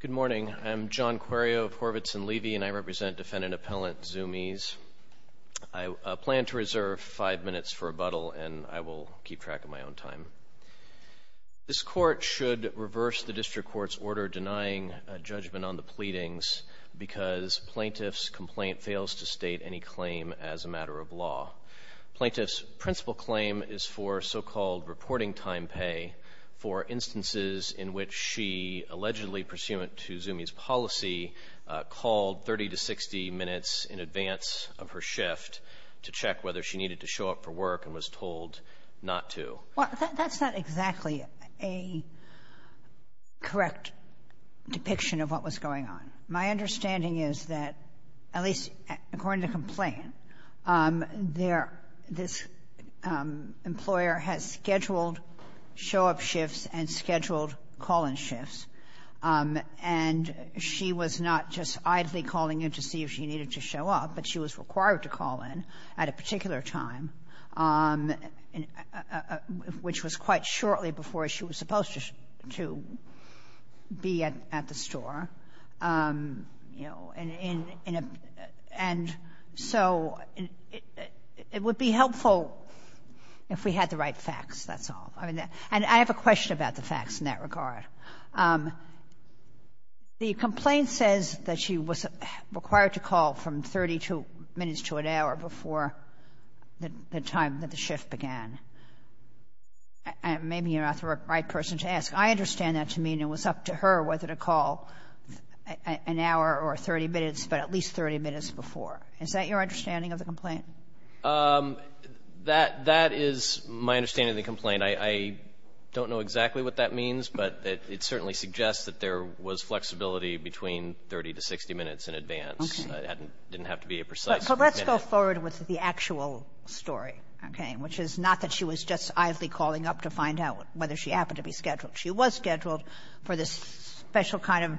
Good morning. I'm John Quirio of Horvitz & Levy, and I represent Defendant Appellant Zumiez. I plan to reserve five minutes for rebuttal, and I will keep track of my own time. This Court should reverse the District Court's order denying judgment on the pleadings because plaintiff's complaint fails to state any claim as a matter of law. Plaintiff's principal claim is for so-called reporting time pay for instances in which she, allegedly pursuant to Zumiez's policy, called 30 to 60 minutes in advance of her shift to check whether she needed to show up for work and was told not to. Well, that's not exactly a correct depiction of what was going on. My understanding is that, at least according to the complaint, this employer has scheduled show-up shifts and scheduled call-in shifts, and she was not just idly calling in to see if she needed to show up, but she was required to call in at a particular time, which was quite shortly before she was supposed to be at the store. And so it would be helpful if we had the right facts, that's all. And I have a question about the facts in that regard. The complaint says that she was required to call from 32 minutes to an hour before the time that the shift began. Maybe you're not the right person to ask. I understand that to mean it was up to her whether to call an hour or 30 minutes, but at least 30 minutes before. Is that your understanding of the complaint? That is my understanding of the complaint. I don't know exactly what that means, but it certainly suggests that there was flexibility between 30 to 60 minutes in advance. It didn't have to be a precise minute. But let's go forward with the actual story, okay, which is not that she was just idly calling up to find out whether she happened to be scheduled. She was scheduled for this special kind of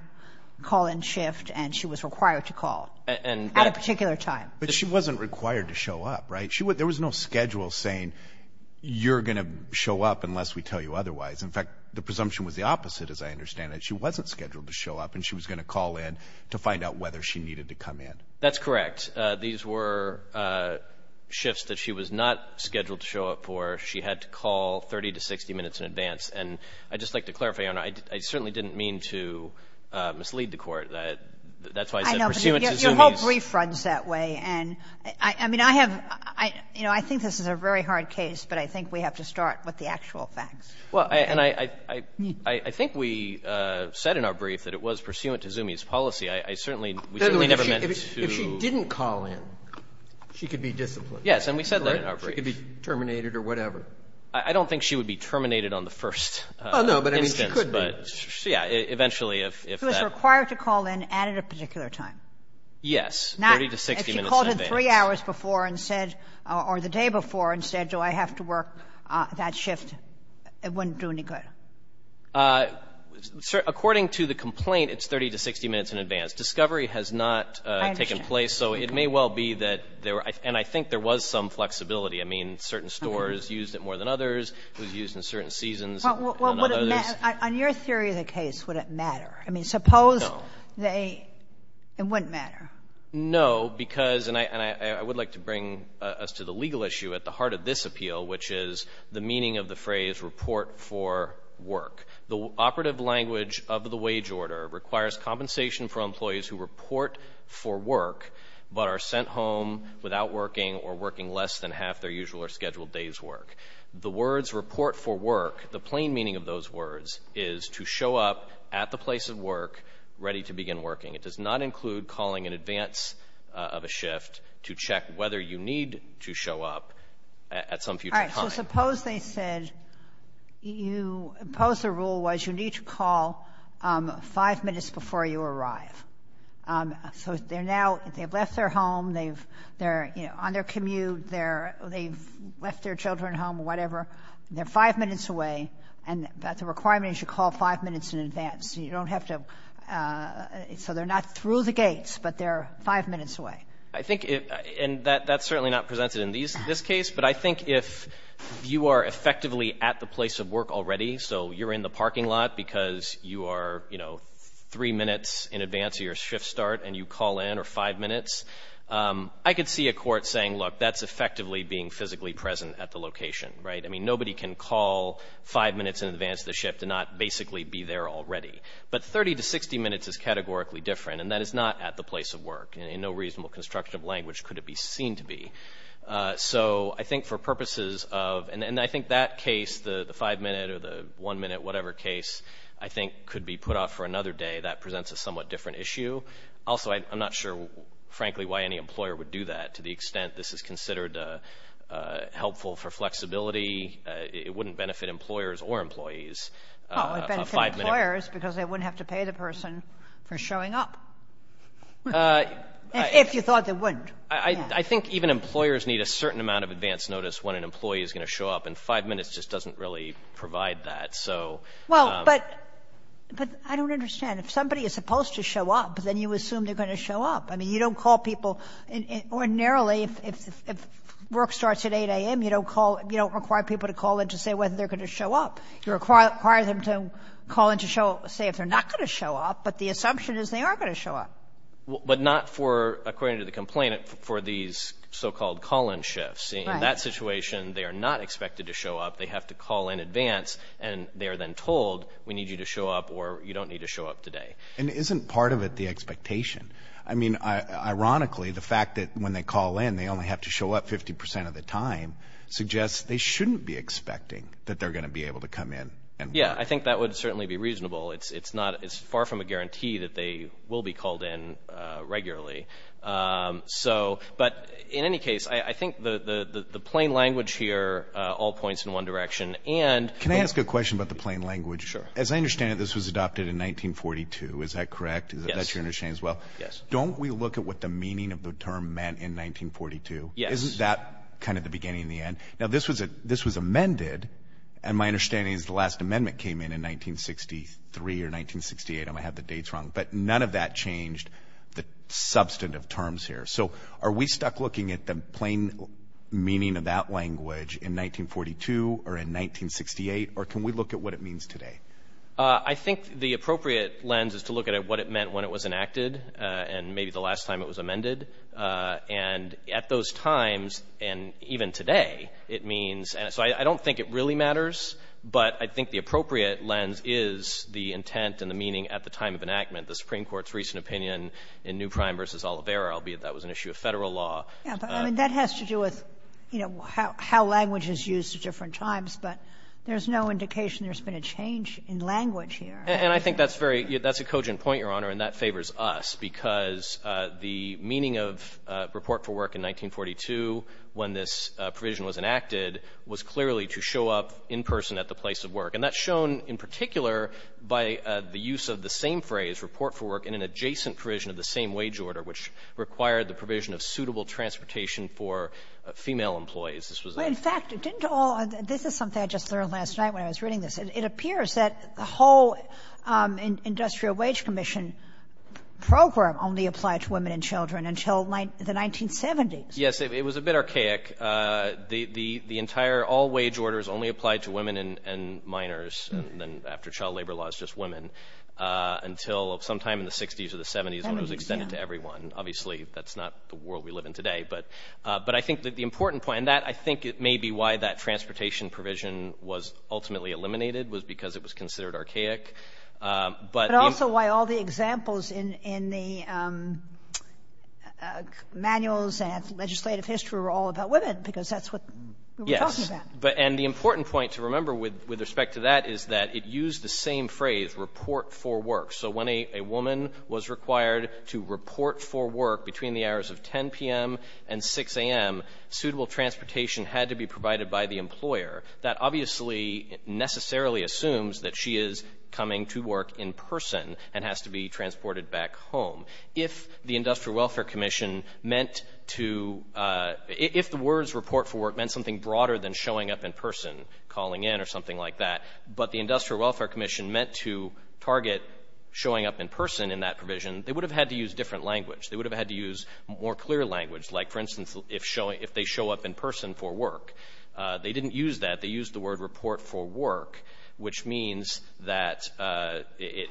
call-in shift, and she was required to call at a particular time. But she wasn't required to show up, right? There was no schedule saying, you're going to show up unless we tell you otherwise. In fact, the presumption was the opposite, as I understand it. She wasn't scheduled to show up, and she was going to call in to find out whether she needed to come in. That's correct. These were shifts that she was not scheduled to show up for. She had to call 30 to 60 minutes in advance. And I'd just like to clarify, Your Honor, I certainly didn't mean to mislead the Court. That's why I said pursuant to Zumi's ---- I know, but your whole brief runs that way. And I mean, I have ---- I think this is a very hard case, but I think we have to start with the actual facts. Well, and I think we said in our brief that it was pursuant to Zumi's policy. I certainly ---- Yes, and we said that in our brief. I don't think she would be terminated on the first instance. Well, no, but I mean, she could be. Yeah, eventually, if that ---- She was required to call in at a particular time. Yes, 30 to 60 minutes in advance. Now, if she called in 3 hours before and said, or the day before and said, do I have to work that shift, it wouldn't do any good. According to the complaint, it's 30 to 60 minutes in advance. Discovery has not taken place. I understand. So it may well be that there were ---- and I think there was some flexibility. I mean, certain stores used it more than others. It was used in certain seasons. On your theory of the case, would it matter? I mean, suppose they ---- No. It wouldn't matter? No, because, and I would like to bring us to the legal issue at the heart of this appeal, which is the meaning of the phrase, report for work. The operative language of the wage order requires compensation for employees who report for work but are sent home without working or working less than half their usual or scheduled day's work. The words report for work, the plain meaning of those words is to show up at the place of work ready to begin working. It does not include calling in advance of a shift to check whether you need to show up at some future time. So suppose they said you ---- suppose the rule was you need to call five minutes before you arrive. So they're now ---- they've left their home. They're on their commute. They've left their children home or whatever. They're five minutes away, and the requirement is you call five minutes in advance. You don't have to ---- so they're not through the gates, but they're five minutes away. I think it ---- and that's certainly not presented in this case. But I think if you are effectively at the place of work already, so you're in the parking lot because you are, you know, three minutes in advance of your shift start and you call in, or five minutes, I could see a court saying, look, that's effectively being physically present at the location, right? I mean, nobody can call five minutes in advance of the shift and not basically be there already. But 30 to 60 minutes is categorically different, and that is not at the place of work. In no reasonable construction of language could it be seen to be. So I think for purposes of ---- and I think that case, the five minute or the one minute, whatever case, I think could be put off for another day. That presents a somewhat different issue. Also, I'm not sure, frankly, why any employer would do that to the extent this is considered helpful for flexibility. It wouldn't benefit employers or employees. Well, it would benefit employers because they wouldn't have to pay the person for showing up, if you thought they wouldn't. I think even employers need a certain amount of advance notice when an employee is going to show up, and five minutes just doesn't really provide that. So ---- Well, but I don't understand. If somebody is supposed to show up, then you assume they're going to show up. I mean, you don't call people. Ordinarily, if work starts at 8 a.m., you don't call, you don't require people to call in to say whether they're going to show up. You require them to call in to show, say if they're not going to show up, but the assumption is they are going to show up. But not for, according to the complainant, for these so-called call-in shifts. In that situation, they are not expected to show up. They have to call in advance, and they are then told, we need you to show up or you don't need to show up today. And isn't part of it the expectation? I mean, ironically, the fact that when they call in, they only have to show up 50% of the time suggests they shouldn't be expecting that they're going to be able to come in and work. Yeah, I think that would certainly be reasonable. It's far from a guarantee that they will be called in regularly. But in any case, I think the plain language here all points in one direction. Can I ask a question about the plain language? Sure. As I understand it, this was adopted in 1942, is that correct? Yes. That's your understanding as well? Yes. Don't we look at what the meaning of the term meant in 1942? Yes. Isn't that kind of the beginning and the end? Now, this was amended, and my understanding is the last amendment came in in 1963 or 1968. I might have the dates wrong. But none of that changed the substantive terms here. So are we stuck looking at the plain meaning of that language in 1942 or in 1968? Or can we look at what it means today? I think the appropriate lens is to look at what it meant when it was enacted and maybe the last time it was amended. And at those times, and even today, it means. So I don't think it really matters. But I think the appropriate lens is the intent and the meaning at the time of enactment. The Supreme Court's recent opinion in New Prime v. Oliveira, albeit that was an issue of Federal law. That has to do with, you know, how language is used at different times. But there's no indication there's been a change in language here. And I think that's a cogent point, Your Honor. And that favors us, because the meaning of report for work in 1942, when this provision was enacted, was clearly to show up in person at the place of work. And that's shown in particular by the use of the same phrase, report for work, in an adjacent provision of the same wage order, which required the provision of suitable transportation for female employees. This was a — Well, in fact, didn't all — this is something I just learned last night when I was reading this. It appears that the whole Industrial Wage Commission program only applied to women and children until the 1970s. Yes, it was a bit archaic. The entire — all wage orders only applied to women and minors, and then after child labor laws, just women, until sometime in the 60s or the 70s when it was extended to everyone. Obviously, that's not the world we live in today. But I think that the important point — and that, I think, may be why that transportation provision was ultimately eliminated, was because it was considered archaic. But — But also why all the examples in the manuals and legislative history were all about women, because that's what we were talking about. Yes. And the important point to remember with respect to that is that it used the same phrase, report for work. So when a woman was required to report for work between the hours of 10 p.m. and 6 a.m., suitable transportation had to be provided by the employer. That obviously necessarily assumes that she is coming to work in person and has to be transported back home. If the Industrial Welfare Commission meant to — if the words report for work meant something broader than showing up in person, calling in, or something like that, but the Industrial Welfare Commission meant to target showing up in person in that provision, they would have had to use different language. They would have had to use more clear language, like, for instance, if they show up in person for work. They didn't use that. They used the word report for work, which means that —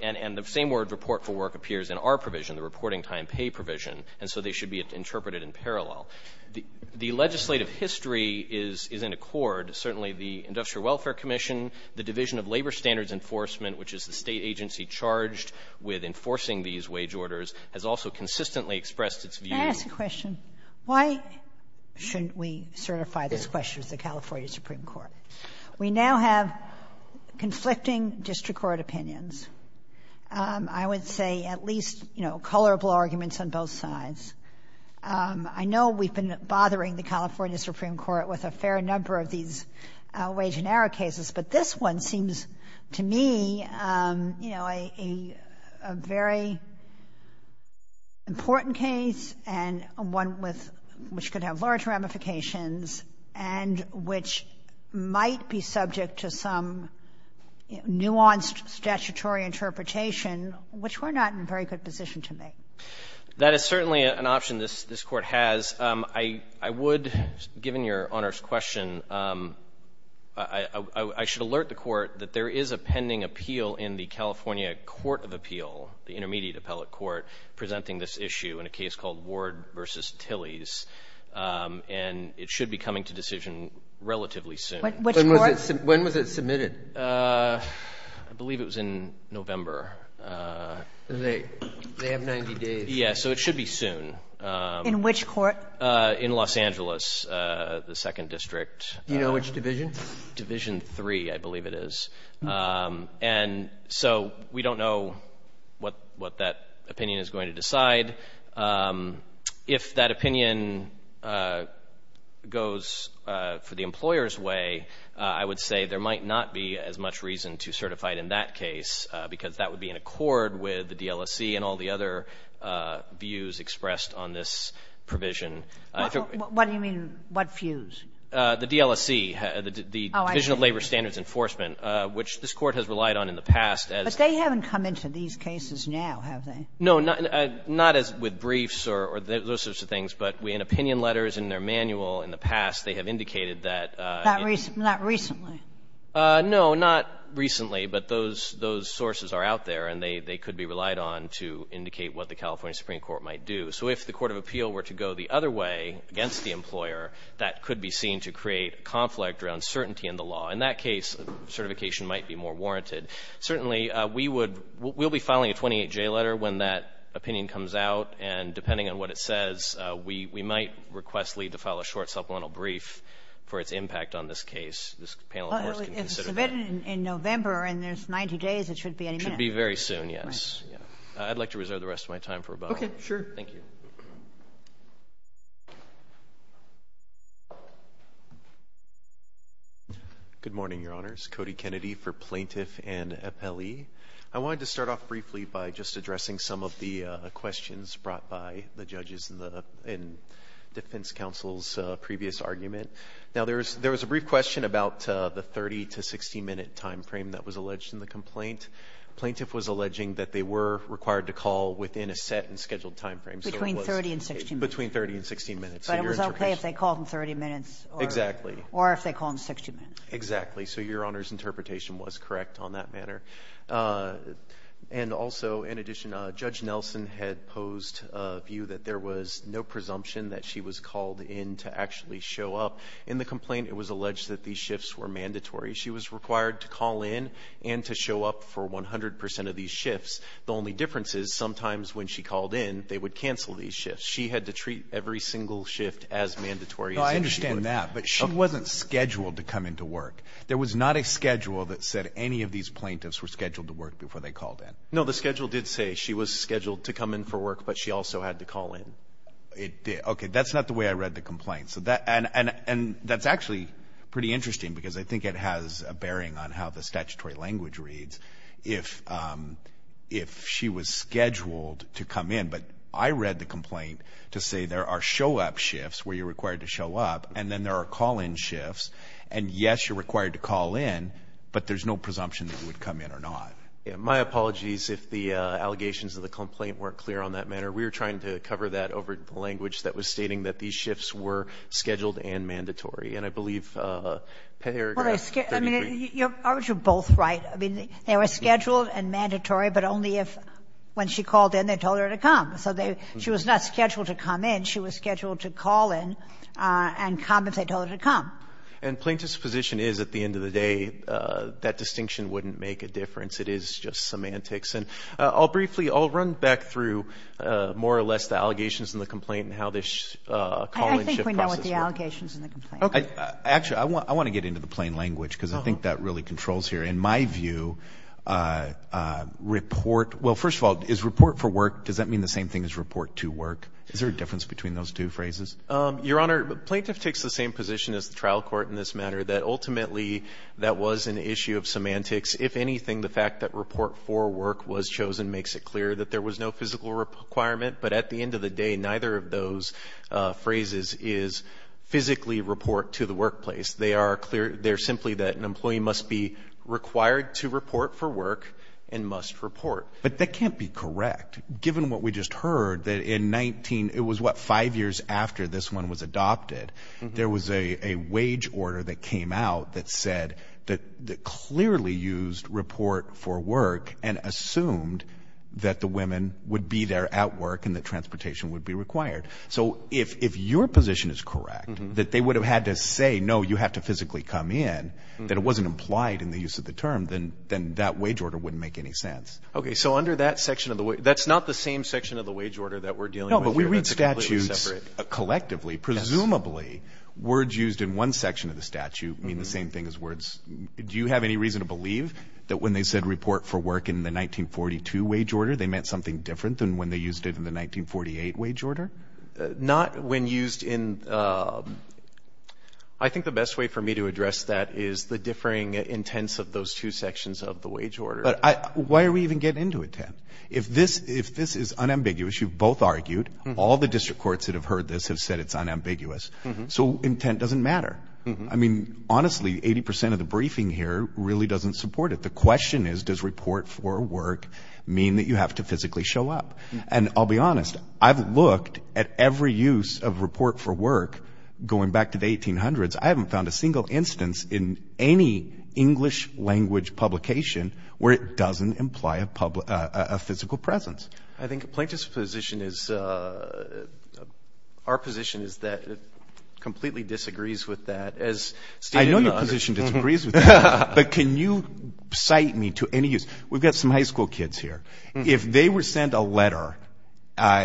and the same word, report for work, appears in our provision, the reporting time pay provision. And so they should be interpreted in parallel. The legislative history is in accord. Certainly the Industrial Welfare Commission, the Division of Labor Standards Enforcement, which is the State agency charged with enforcing these wage orders, has also consistently expressed its view — Can I ask a question? Why shouldn't we certify this question to the California Supreme Court? We now have conflicting district court opinions. I would say at least, you know, colorable arguments on both sides. I know we've been bothering the California Supreme Court with a fair number of these wage and error cases, but this one seems to me, you know, a very important case and one which could have large ramifications and which might be subject to some nuanced statutory interpretation, which we're not in a very good position to make. That is certainly an option this court has. I would, given Your Honor's question, I should alert the court that there is a pending appeal in the California Court of Appeal, the intermediate appellate court, presenting this issue in a case called Ward v. Tillys, and it should be coming to decision relatively soon. Which court? When was it submitted? I believe it was in November. They have 90 days. Yes, so it should be soon. In which court? In Los Angeles, the second district. Do you know which division? Division 3, I believe it is. And so we don't know what that opinion is going to decide. If that opinion goes for the employer's way, I would say there might not be as much reason to certify it in that case, because that would be in accord with the DLSC and all the other views expressed on this provision. What do you mean? What views? The DLSC, the Division of Labor Standards Enforcement, which this Court has relied on in the past as they have. But they haven't come into these cases now, have they? No, not as with briefs or those sorts of things, but in opinion letters in their manual in the past, they have indicated that. Not recently? No, not recently, but those sources are out there, and they could be relied on to indicate what the California Supreme Court might do. So if the Court of Appeal were to go the other way against the employer, that could be seen to create conflict around certainty in the law. In that case, certification might be more warranted. Certainly, we'll be filing a 28-J letter when that opinion comes out, and depending on what it says, we might request Lee to file a short supplemental brief for its impact on this case. This panel, of course, can consider that. If it's submitted in November and there's 90 days, it shouldn't be any minute. It should be very soon, yes. I'd like to reserve the rest of my time for rebuttal. Okay, sure. Thank you. Good morning, Your Honors. Cody Kennedy for Plaintiff and Appealee. I wanted to start off briefly by just addressing some of the questions brought by the judges in the defense counsel's previous argument. Now, there was a brief question about the 30- to 60-minute time frame that was alleged in the complaint. Plaintiff was alleging that they were required to call within a set and scheduled time frame. Between 30 and 60 minutes. Between 30 and 60 minutes. But it was okay if they called in 30 minutes. Exactly. Or if they called in 60 minutes. Exactly. So Your Honor's interpretation was correct on that matter. And also, in addition, Judge Nelson had posed a view that there was no presumption that she was called in to actually show up. In the complaint, it was alleged that these shifts were mandatory. She was required to call in and to show up for 100% of these shifts. The only difference is sometimes when she called in, they would cancel these shifts. She had to treat every single shift as mandatory. No, I understand that. But she wasn't scheduled to come into work. There was not a schedule that said any of these plaintiffs were scheduled to work before they called in. No, the schedule did say she was scheduled to come in for work, but she also had to call in. Okay, that's not the way I read the complaint. And that's actually pretty interesting because I think it has a bearing on how the statutory language reads. If she was scheduled to come in, but I read the complaint to say there are show-up shifts where you're required to show up. And then there are call-in shifts. And, yes, you're required to call in, but there's no presumption that you would come in or not. My apologies if the allegations of the complaint weren't clear on that matter. We were trying to cover that over the language that was stating that these shifts were scheduled and mandatory. And I believe paragraph 33. Aren't you both right? I mean, they were scheduled and mandatory, but only if when she called in they told her to come. So she was not scheduled to come in. She was scheduled to call in and come if they told her to come. And plaintiff's position is, at the end of the day, that distinction wouldn't make a difference. It is just semantics. And I'll briefly, I'll run back through more or less the allegations in the complaint and how this call-in shift process works. I think we know what the allegations in the complaint are. Actually, I want to get into the plain language because I think that really controls here. In my view, report, well, first of all, is report for work, does that mean the same thing as report to work? Is there a difference between those two phrases? Your Honor, plaintiff takes the same position as the trial court in this matter, that ultimately that was an issue of semantics. If anything, the fact that report for work was chosen makes it clear that there was no physical requirement. But at the end of the day, neither of those phrases is physically report to the workplace. They are simply that an employee must be required to report for work and must report. But that can't be correct. Given what we just heard, that in 19, it was what, five years after this one was adopted, there was a wage order that came out that said that clearly used report for work and assumed that the women would be there at work and that transportation would be required. So if your position is correct, that they would have had to say, no, you have to physically come in, that it wasn't implied in the use of the term, then that wage order wouldn't make any sense. Okay, so under that section of the – that's not the same section of the wage order that we're dealing with here. No, but we read statutes collectively. Presumably, words used in one section of the statute mean the same thing as words – do you have any reason to believe that when they said report for work in the 1942 wage order, they meant something different than when they used it in the 1948 wage order? Not when used in – I think the best way for me to address that is the differing intents of those two sections of the wage order. But why are we even getting into intent? If this is unambiguous, you've both argued, all the district courts that have heard this have said it's unambiguous, so intent doesn't matter. I mean, honestly, 80 percent of the briefing here really doesn't support it. The question is, does report for work mean that you have to physically show up? And I'll be honest, I've looked at every use of report for work going back to the 1800s. I haven't found a single instance in any English language publication where it doesn't imply a physical presence. I think Plaintiff's position is – our position is that it completely disagrees with that. I know your position disagrees with that, but can you cite me to any use? We've got some high school kids here. If they were sent a letter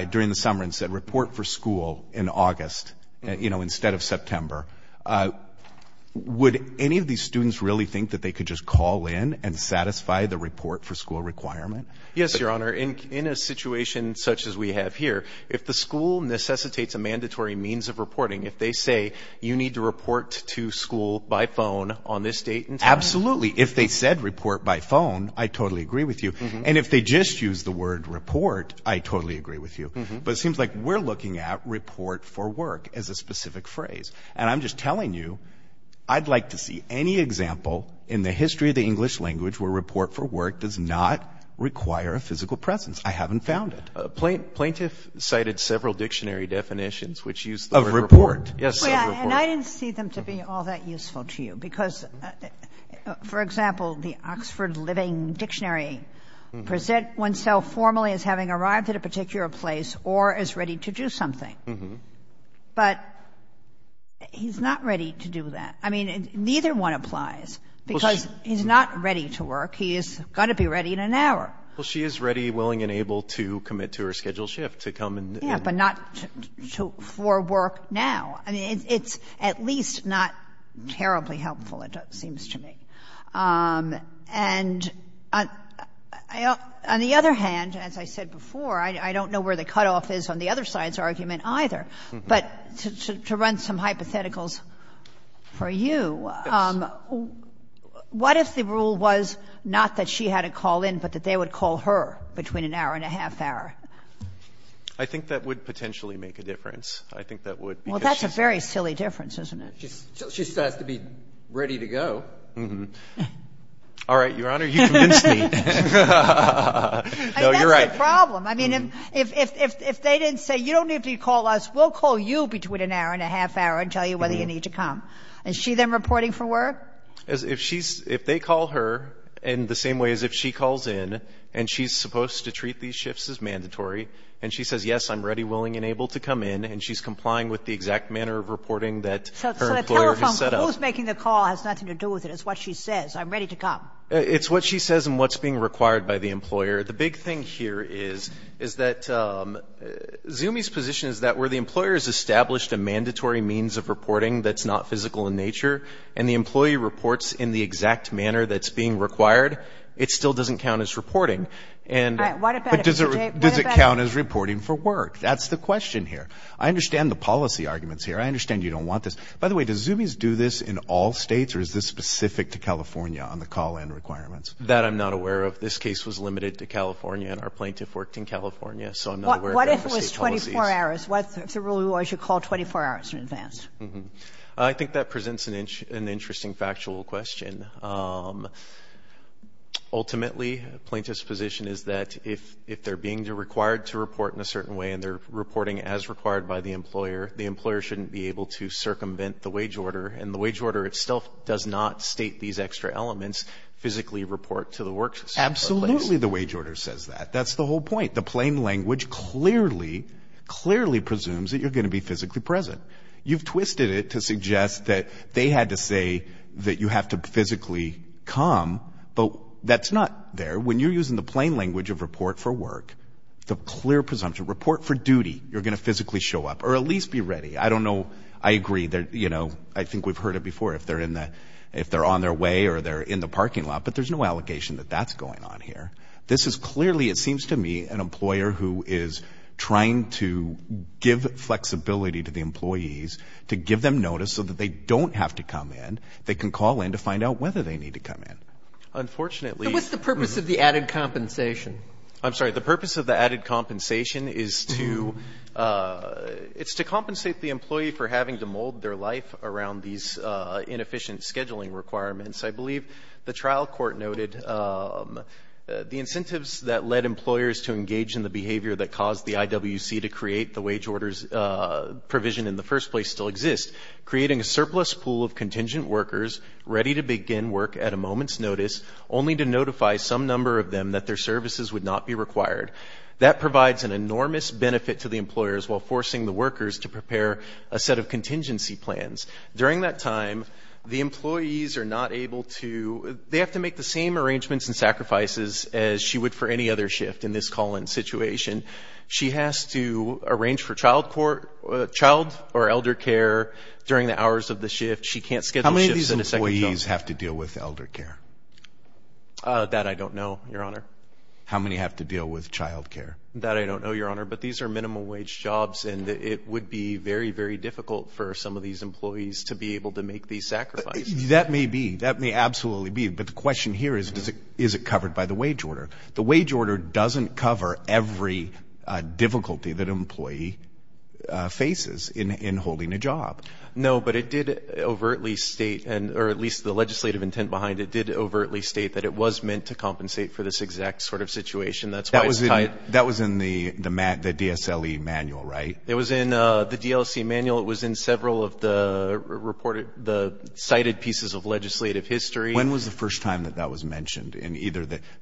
during the summer and said report for school in August instead of September, would any of these students really think that they could just call in and satisfy the report for school requirement? Yes, Your Honor. In a situation such as we have here, if the school necessitates a mandatory means of reporting, if they say you need to report to school by phone on this date and time? Absolutely. If they said report by phone, I totally agree with you. And if they just used the word report, I totally agree with you. But it seems like we're looking at report for work as a specific phrase. And I'm just telling you I'd like to see any example in the history of the English language where report for work does not require a physical presence. I haven't found it. Plaintiff cited several dictionary definitions which use the word report. Of report. Yes, of report. And I didn't see them to be all that useful to you because, for example, the Oxford Living Dictionary presents oneself formally as having arrived at a particular place or as ready to do something. But he's not ready to do that. I mean, neither one applies because he's not ready to work. He's got to be ready in an hour. Well, she is ready, willing, and able to commit to her scheduled shift, to come and do it. Yeah, but not for work now. I mean, it's at least not terribly helpful, it seems to me. And on the other hand, as I said before, I don't know where the cutoff is on the other side's argument either. But to run some hypotheticals for you, what if the rule was not that she had a call in, but that they would call her between an hour and a half hour? I think that would potentially make a difference. I think that would. Well, that's a very silly difference, isn't it? She still has to be ready to go. All right, Your Honor, you convinced me. No, you're right. I mean, that's the problem. I mean, if they didn't say you don't need to call us, we'll call you between an hour and a half hour and tell you whether you need to come. Is she then reporting for work? If they call her in the same way as if she calls in and she's supposed to treat these shifts as mandatory, and she says, yes, I'm ready, willing, and able to come in, and she's complying with the exact manner of reporting that her employer has set up. So the telephone, who's making the call has nothing to do with it. It's what she says. I'm ready to come. It's what she says and what's being required by the employer. The big thing here is that Zumi's position is that where the employer has established a mandatory means of reporting that's not physical in nature and the employee reports in the exact manner that's being required, it still doesn't count as reporting. But does it count as reporting for work? That's the question here. I understand the policy arguments here. I understand you don't want this. By the way, does Zumi's do this in all states, or is this specific to California on the call-in requirements? That I'm not aware of. This case was limited to California, and our plaintiff worked in California. What if it was 24 hours? What if the rule was you call 24 hours in advance? I think that presents an interesting factual question. Ultimately, the plaintiff's position is that if they're being required to report in a certain way and they're reporting as required by the employer, the employer shouldn't be able to circumvent the wage order, and the wage order still does not state these extra elements, physically report to the workplace. Absolutely the wage order says that. That's the whole point. The plain language clearly, clearly presumes that you're going to be physically present. You've twisted it to suggest that they had to say that you have to physically come, but that's not there. When you're using the plain language of report for work, the clear presumption, report for duty, you're going to physically show up, or at least be ready. I don't know. I agree. You know, I think we've heard it before. If they're on their way or they're in the parking lot, but there's no allegation that that's going on here. This is clearly, it seems to me, an employer who is trying to give flexibility to the employees to give them notice so that they don't have to come in. They can call in to find out whether they need to come in. Unfortunately. But what's the purpose of the added compensation? I'm sorry. The purpose of the added compensation is to compensate the employee for having to mold their life around these inefficient scheduling requirements. I believe the trial court noted the incentives that led employers to engage in the behavior that caused the IWC to create the wage orders provision in the first place still exist, creating a surplus pool of contingent workers ready to begin work at a moment's notice, only to notify some number of them that their services would not be required. That provides an enormous benefit to the employers while forcing the workers to prepare a set of contingency plans. During that time, the employees are not able to, they have to make the same arrangements and sacrifices as she would for any other shift in this call-in situation. She has to arrange for child or elder care during the hours of the shift. She can't schedule shifts in a second job. How many of these employees have to deal with elder care? That I don't know, Your Honor. How many have to deal with child care? That I don't know, Your Honor. But these are minimum wage jobs, and it would be very, very difficult for some of these employees to be able to make these sacrifices. That may be. That may absolutely be. But the question here is, is it covered by the wage order? The wage order doesn't cover every difficulty that an employee faces in holding a job. No, but it did overtly state, or at least the legislative intent behind it did overtly state, that it was meant to compensate for this exact sort of situation. That was in the DSLE manual, right? It was in the DLC manual. It was in several of the cited pieces of legislative history. When was the first time that that was mentioned?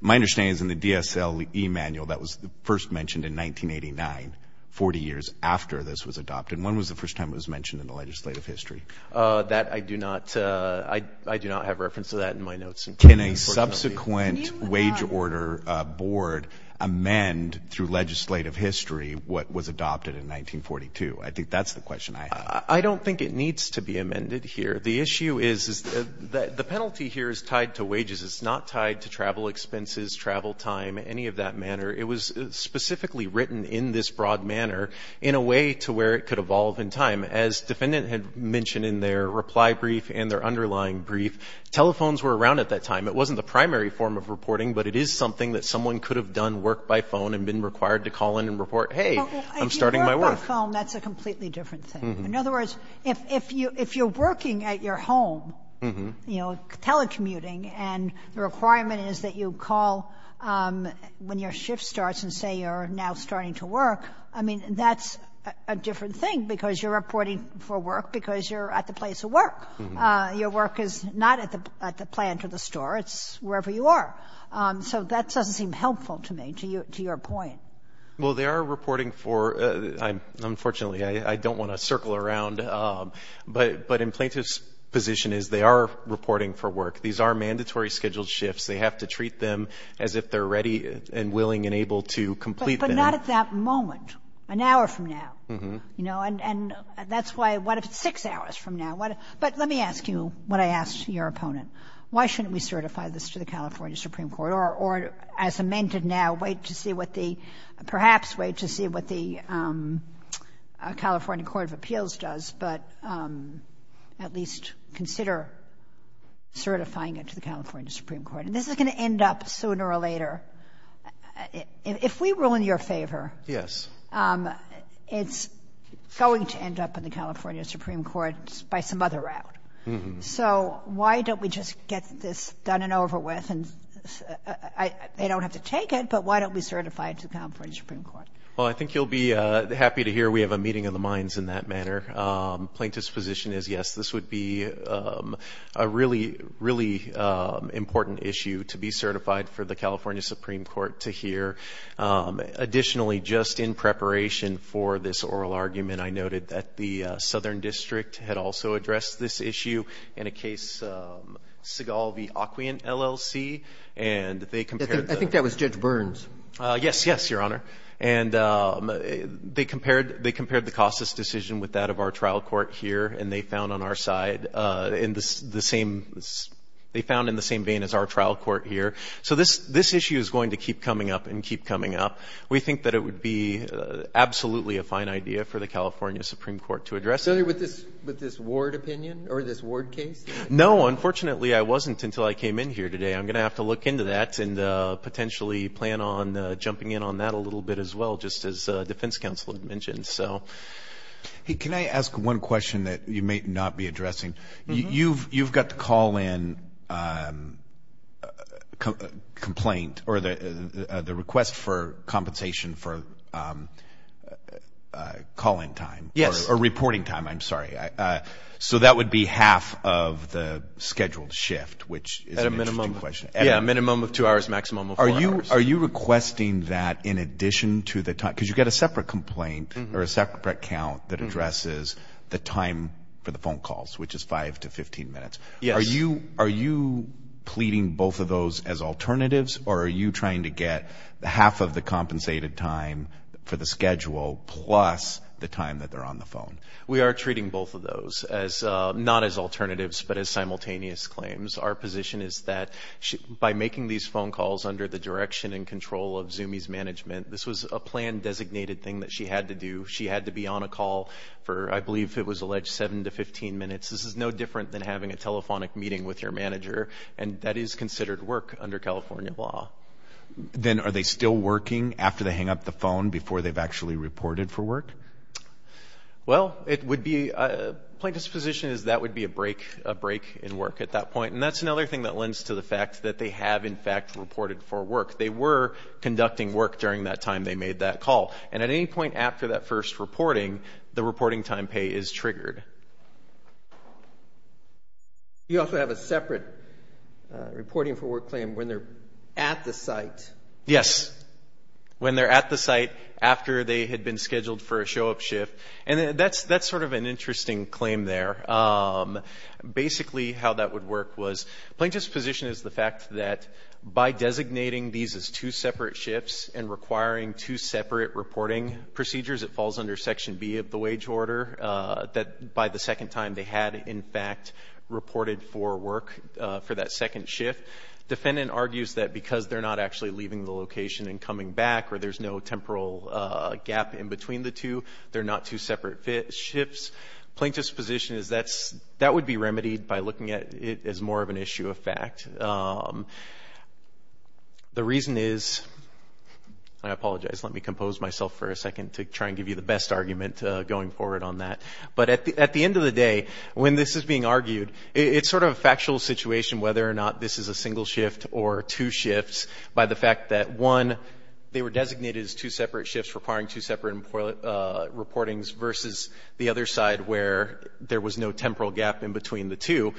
My understanding is in the DSLE manual. That was first mentioned in 1989, 40 years after this was adopted. When was the first time it was mentioned in the legislative history? That I do not have reference to that in my notes. Can a subsequent wage order board amend through legislative history what was adopted in 1942? I think that's the question I have. I don't think it needs to be amended here. The issue is the penalty here is tied to wages. It's not tied to travel expenses, travel time, any of that manner. It was specifically written in this broad manner in a way to where it could evolve in time. As the defendant had mentioned in their reply brief and their underlying brief, telephones were around at that time. It wasn't the primary form of reporting, but it is something that someone could have done work by phone and been required to call in and report, hey, I'm starting my work. If you work by phone, that's a completely different thing. In other words, if you're working at your home, you know, telecommuting, and the requirement is that you call when your shift starts and say you're now starting to work, I mean, that's a different thing because you're reporting for work because you're at the place of work. Your work is not at the plant or the store. It's wherever you are. So that doesn't seem helpful to me, to your point. Well, they are reporting for, unfortunately, I don't want to circle around, but in plaintiff's position is they are reporting for work. These are mandatory scheduled shifts. They have to treat them as if they're ready and willing and able to complete them. But not at that moment, an hour from now. And that's why, what if it's six hours from now? But let me ask you what I asked your opponent. Why shouldn't we certify this to the California Supreme Court or, as amended now, wait to see what the, perhaps wait to see what the California Court of Appeals does, but at least consider certifying it to the California Supreme Court? And this is going to end up sooner or later. If we rule in your favor, it's going to end up in the California Supreme Court by some other route. So why don't we just get this done and over with? They don't have to take it, but why don't we certify it to the California Supreme Court? Well, I think you'll be happy to hear we have a meeting of the minds in that manner. Plaintiff's position is, yes, this would be a really, really important issue to be certified for the California Supreme Court to hear. Additionally, just in preparation for this oral argument, I noted that the Southern District had also addressed this issue in a case, Seagal v. Aquient, LLC. I think that was Judge Burns. Yes, yes, Your Honor. And they compared the CASAS decision with that of our trial court here, and they found in the same vein as our trial court here. So this issue is going to keep coming up and keep coming up. We think that it would be absolutely a fine idea for the California Supreme Court to address it. So with this Ward opinion or this Ward case? No, unfortunately, I wasn't until I came in here today. I'm going to have to look into that and potentially plan on jumping in on that a little bit as well, just as defense counsel had mentioned. Hey, can I ask one question that you may not be addressing? You've got the call-in complaint or the request for compensation for call-in time. Yes. Or reporting time, I'm sorry. So that would be half of the scheduled shift, which is an interesting question. At a minimum. Yeah, a minimum of two hours, maximum of four hours. Are you requesting that in addition to the time? Yes. Are you pleading both of those as alternatives, or are you trying to get half of the compensated time for the schedule plus the time that they're on the phone? We are treating both of those not as alternatives but as simultaneous claims. Our position is that by making these phone calls under the direction and control of Zumi's management, this was a plan-designated thing that she had to do. She had to be on a call for, I believe it was alleged, seven to 15 minutes. This is no different than having a telephonic meeting with your manager, and that is considered work under California law. Then are they still working after they hang up the phone before they've actually reported for work? Well, the point of this position is that would be a break in work at that point, and that's another thing that lends to the fact that they have, in fact, reported for work. They were conducting work during that time they made that call, and at any point after that first reporting, the reporting time pay is triggered. You also have a separate reporting for work claim when they're at the site. Yes, when they're at the site after they had been scheduled for a show-up shift, and that's sort of an interesting claim there. Basically, how that would work was plaintiff's position is the fact that by designating these as two separate shifts and requiring two separate reporting procedures, it falls under Section B of the wage order, that by the second time they had, in fact, reported for work for that second shift. Defendant argues that because they're not actually leaving the location and coming back or there's no temporal gap in between the two, they're not two separate shifts. Plaintiff's position is that would be remedied by looking at it as more of an issue of fact. The reason is, I apologize. Let me compose myself for a second to try and give you the best argument going forward on that. But at the end of the day, when this is being argued, it's sort of a factual situation whether or not this is a single shift or two shifts by the fact that, one, they were designated as two separate shifts requiring two separate reportings versus the other side where there was no temporal gap in between the two.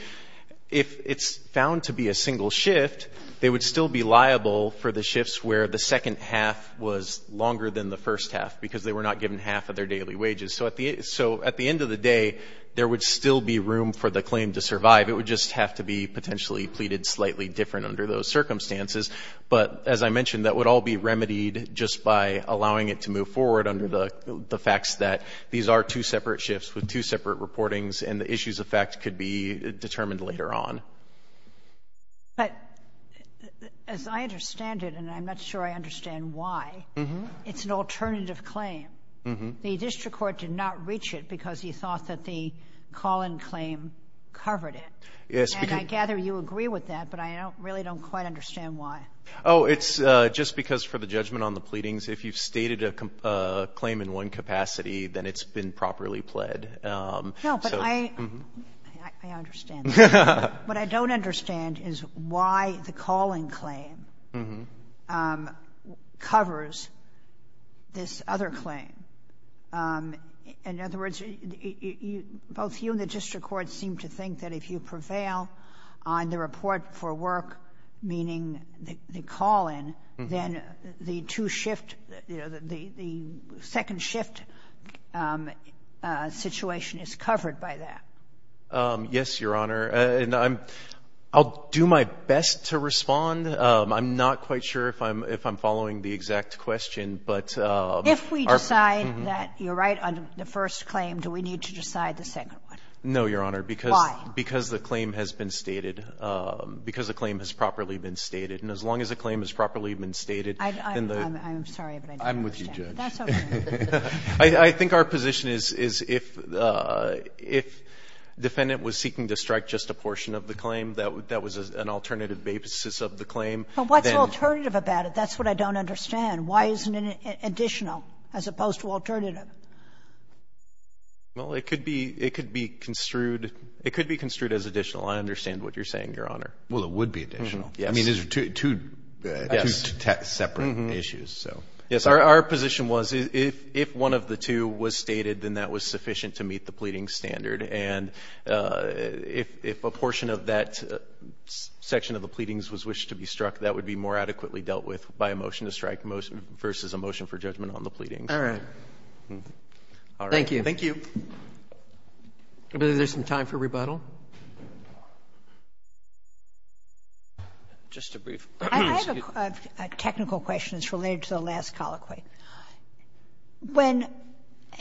If it's found to be a single shift, they would still be liable for the shifts where the second half was longer than the first half because they were not given half of their daily wages. So at the end of the day, there would still be room for the claim to survive. It would just have to be potentially pleaded slightly different under those circumstances. But as I mentioned, that would all be remedied just by allowing it to move forward under the facts that these are two separate shifts with two separate reportings and the issues of fact could be determined later on. But as I understand it, and I'm not sure I understand why, it's an alternative claim. The district court did not reach it because he thought that the call-in claim covered it. And I gather you agree with that, but I really don't quite understand why. Oh, it's just because for the judgment on the pleadings, if you've stated a claim in one capacity, then it's been properly pled. No, but I understand that. What I don't understand is why the call-in claim covers this other claim. In other words, both you and the district court seem to think that if you prevail on the report for work, meaning the call-in, then the second shift situation is covered by that. Yes, Your Honor. And I'll do my best to respond. I'm not quite sure if I'm following the exact question. If we decide that you're right on the first claim, do we need to decide the second one? No, Your Honor. Why? Not because the claim has been stated, because the claim has properly been stated. And as long as the claim has properly been stated, then the ---- I'm sorry, but I don't understand. I'm with you, Judge. That's okay. I think our position is if defendant was seeking to strike just a portion of the claim, that was an alternative basis of the claim. But what's alternative about it? That's what I don't understand. Why isn't it additional as opposed to alternative? Well, it could be construed as additional. I understand what you're saying, Your Honor. Well, it would be additional. Yes. I mean, these are two separate issues. Yes, our position was if one of the two was stated, then that was sufficient to meet the pleading standard. And if a portion of that section of the pleadings was wished to be struck, that would be more adequately dealt with by a motion to strike versus a motion for judgment on the pleadings. All right. Thank you. Thank you. Are there some time for rebuttal? Just a brief ---- I have a technical question. It's related to the last colloquy. When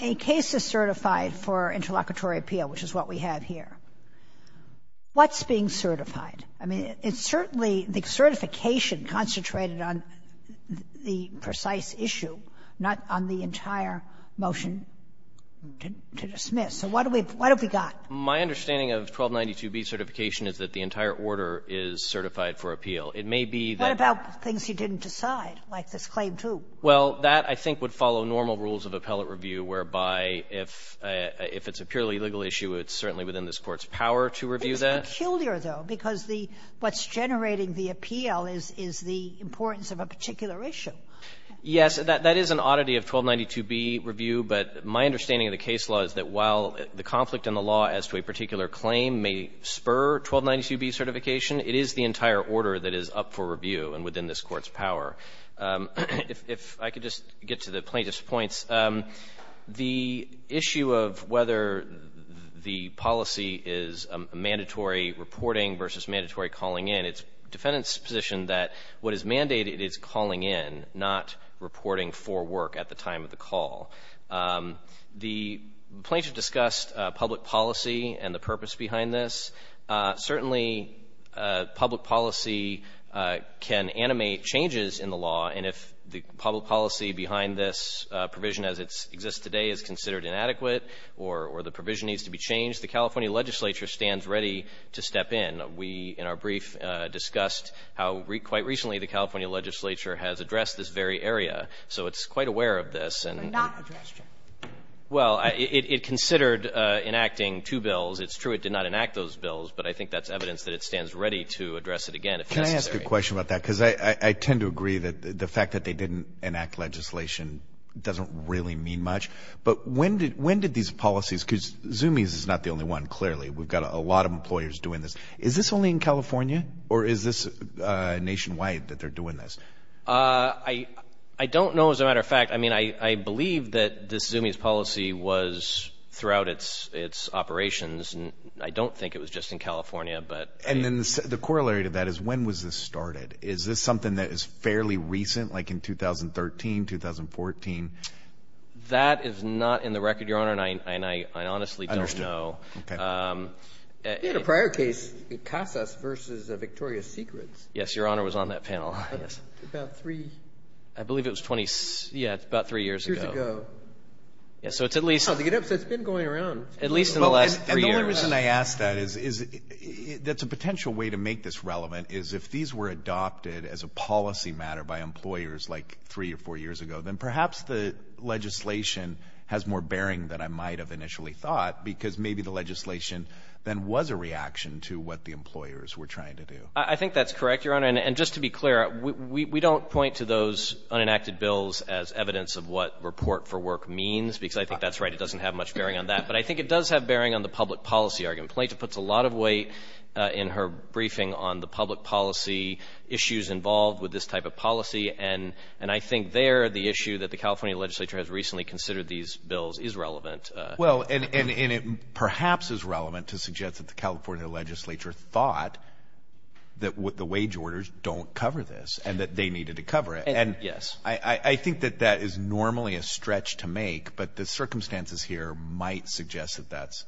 a case is certified for interlocutory appeal, which is what we have here, what's being certified? I mean, it's certainly the certification concentrated on the precise issue, not on the entire motion to dismiss. So what have we got? My understanding of 1292B certification is that the entire order is certified for appeal. It may be that ---- What about things you didn't decide, like this claim 2? Well, that, I think, would follow normal rules of appellate review, whereby if it's a purely legal issue, it's certainly within this Court's power to review that. It's peculiar, though, because what's generating the appeal is the importance of a particular issue. Yes, that is an oddity of 1292B review, but my understanding of the case law is that while the conflict in the law as to a particular claim may spur 1292B certification, it is the entire order that is up for review and within this Court's power. If I could just get to the plaintiff's points, the issue of whether the policy is a mandatory reporting versus mandatory calling in, it's the defendant's position that what is mandated is calling in, not reporting for work at the time of the call. The plaintiff discussed public policy and the purpose behind this. Certainly, public policy can animate changes in the law, and if the public policy behind this provision as it exists today is considered inadequate or the provision needs to be changed, the California legislature stands ready to step in. We, in our brief, discussed how quite recently the California legislature has addressed this very area. So it's quite aware of this. But not addressed yet. Well, it considered enacting two bills. It's true it did not enact those bills, but I think that's evidence that it stands ready to address it again if necessary. Can I ask a question about that? Because I tend to agree that the fact that they didn't enact legislation doesn't really mean much. But when did these policies, because Zoomies is not the only one, clearly. We've got a lot of employers doing this. Is this only in California or is this nationwide that they're doing this? I don't know, as a matter of fact. I mean, I believe that this Zoomies policy was throughout its operations. I don't think it was just in California. And then the corollary to that is when was this started? Is this something that is fairly recent, like in 2013, 2014? That is not in the record, Your Honor, and I honestly don't know. Understood. Okay. You had a prior case in CASAS versus Victoria's Secrets. Yes, Your Honor was on that panel, yes. About three. I believe it was about three years ago. Years ago. Yeah, so it's at least. It's been going around. At least in the last three years. And the only reason I ask that is that's a potential way to make this relevant is if these were adopted as a policy matter by employers like three or four years ago, then perhaps the legislation has more bearing than I might have initially thought, because maybe the legislation then was a reaction to what the employers were trying to do. I think that's correct, Your Honor. And just to be clear, we don't point to those unenacted bills as evidence of what report for work means, because I think that's right. It doesn't have much bearing on that. But I think it does have bearing on the public policy argument. Plaintiff puts a lot of weight in her briefing on the public policy issues involved with this type of policy, and I think there the issue that the Well, and it perhaps is relevant to suggest that the California legislature thought that the wage orders don't cover this and that they needed to cover it. Yes. And I think that that is normally a stretch to make, but the circumstances here might suggest that that's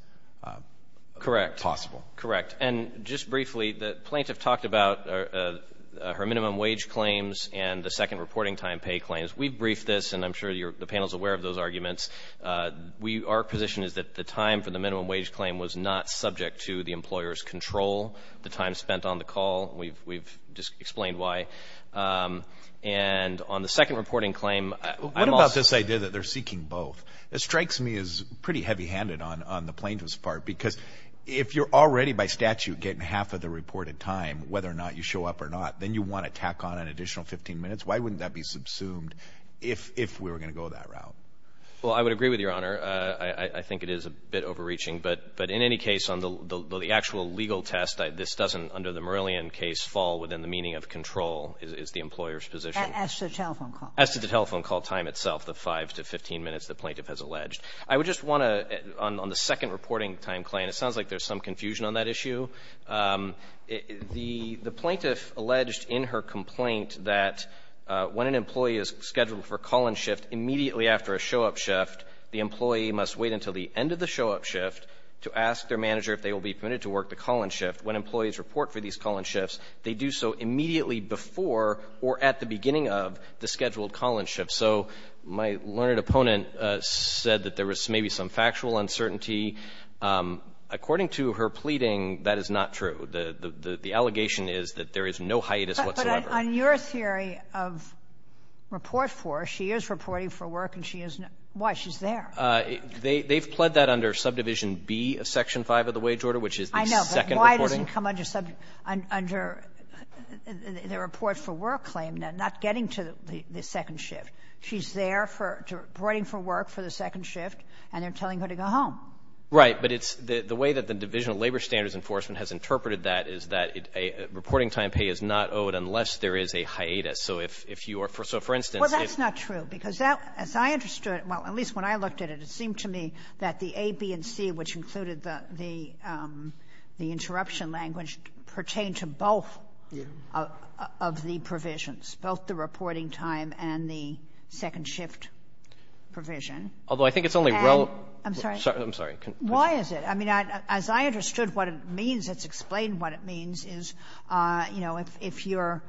possible. Correct. And just briefly, the plaintiff talked about her minimum wage claims and the second reporting time pay claims. We've briefed this, and I'm sure the panel is aware of those arguments. Our position is that the time for the minimum wage claim was not subject to the employer's control, the time spent on the call. We've just explained why. And on the second reporting claim, I'm also What about this idea that they're seeking both? It strikes me as pretty heavy-handed on the plaintiff's part, because if you're already by statute getting half of the reported time, whether or not you show up or not, then you want to tack on an additional 15 minutes. Why wouldn't that be subsumed if we were going to go that route? Well, I would agree with Your Honor. I think it is a bit overreaching. But in any case, on the actual legal test, this doesn't, under the Marillion case, fall within the meaning of control, is the employer's position. As to the telephone call. As to the telephone call time itself, the 5 to 15 minutes the plaintiff has alleged. I would just want to, on the second reporting time claim, it sounds like there's some confusion on that issue. The plaintiff alleged in her complaint that when an employee is scheduled for call-in shift immediately after a show-up shift, the employee must wait until the end of the show-up shift to ask their manager if they will be permitted to work the call-in shift. When employees report for these call-in shifts, they do so immediately before or at the beginning of the scheduled call-in shift. So my learned opponent said that there was maybe some factual uncertainty. According to her pleading, that is not true. The allegation is that there is no hiatus whatsoever. On your theory of report for, she is reporting for work and she is not. Why? She's there. They've pled that under subdivision B of section 5 of the wage order, which is the second reporting. I know. But why does it come under the report for work claim, not getting to the second shift? She's there for reporting for work for the second shift, and they're telling her to go home. But it's the way that the Division of Labor Standards Enforcement has interpreted that, is that a reporting time pay is not owed unless there is a hiatus. So if you are for, so for instance, if. Well, that's not true. Because that, as I understood, well, at least when I looked at it, it seemed to me that the A, B, and C, which included the interruption language, pertain to both of the provisions, both the reporting time and the second shift provision. Although I think it's only relevant. I'm sorry. Why is it? I mean, as I understood what it means, it's explained what it means, is, you know, if you're,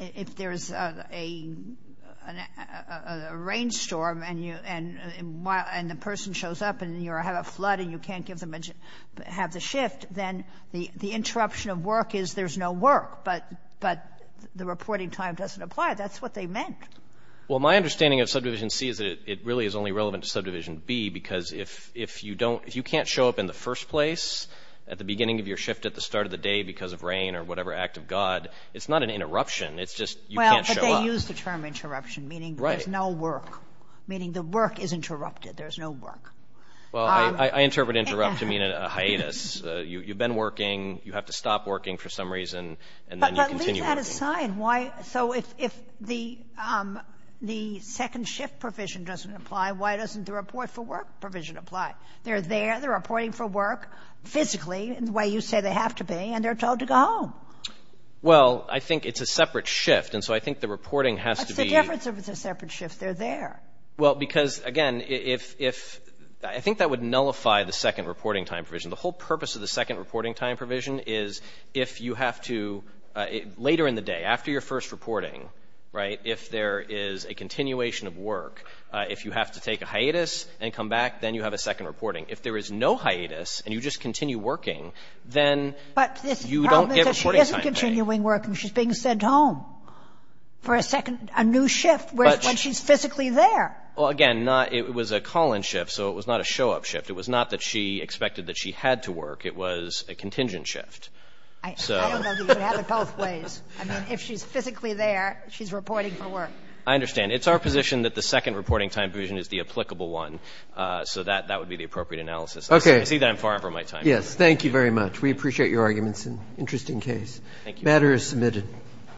if there is a rainstorm and you, and the person shows up and you have a flood and you can't give them a shift, then the interruption of work is there's no work. But the reporting time doesn't apply. That's what they meant. Well, my understanding of subdivision C is that it really is only relevant to subdivision B, because if you don't, if you can't show up in the first place at the beginning of your shift at the start of the day because of rain or whatever act of God, it's not an interruption. It's just you can't show up. Well, but they use the term interruption, meaning there's no work. Right. Meaning the work is interrupted. There's no work. Well, I interpret interrupt to mean a hiatus. You've been working. You have to stop working for some reason, and then you continue working. But leave that aside. And why? So if the second shift provision doesn't apply, why doesn't the report for work provision apply? They're there. They're reporting for work physically in the way you say they have to be, and they're told to go home. Well, I think it's a separate shift, and so I think the reporting has to be What's the difference if it's a separate shift? They're there. Well, because, again, if — I think that would nullify the second reporting time provision. The whole purpose of the second reporting time provision is if you have to — later in the day, after your first reporting, right, if there is a continuation of work, if you have to take a hiatus and come back, then you have a second reporting. If there is no hiatus and you just continue working, then you don't get reporting time. But the problem is that she isn't continuing working. She's being sent home for a second — a new shift when she's physically there. Well, again, not — it was a call-in shift, so it was not a show-up shift. It was not that she expected that she had to work. It was a contingent shift. I don't know that you can have it both ways. I mean, if she's physically there, she's reporting for work. I understand. It's our position that the second reporting time provision is the applicable one, so that would be the appropriate analysis. Okay. I see that I'm far from my time. Yes. Thank you very much. We appreciate your arguments. Interesting case. Thank you. The matter is submitted.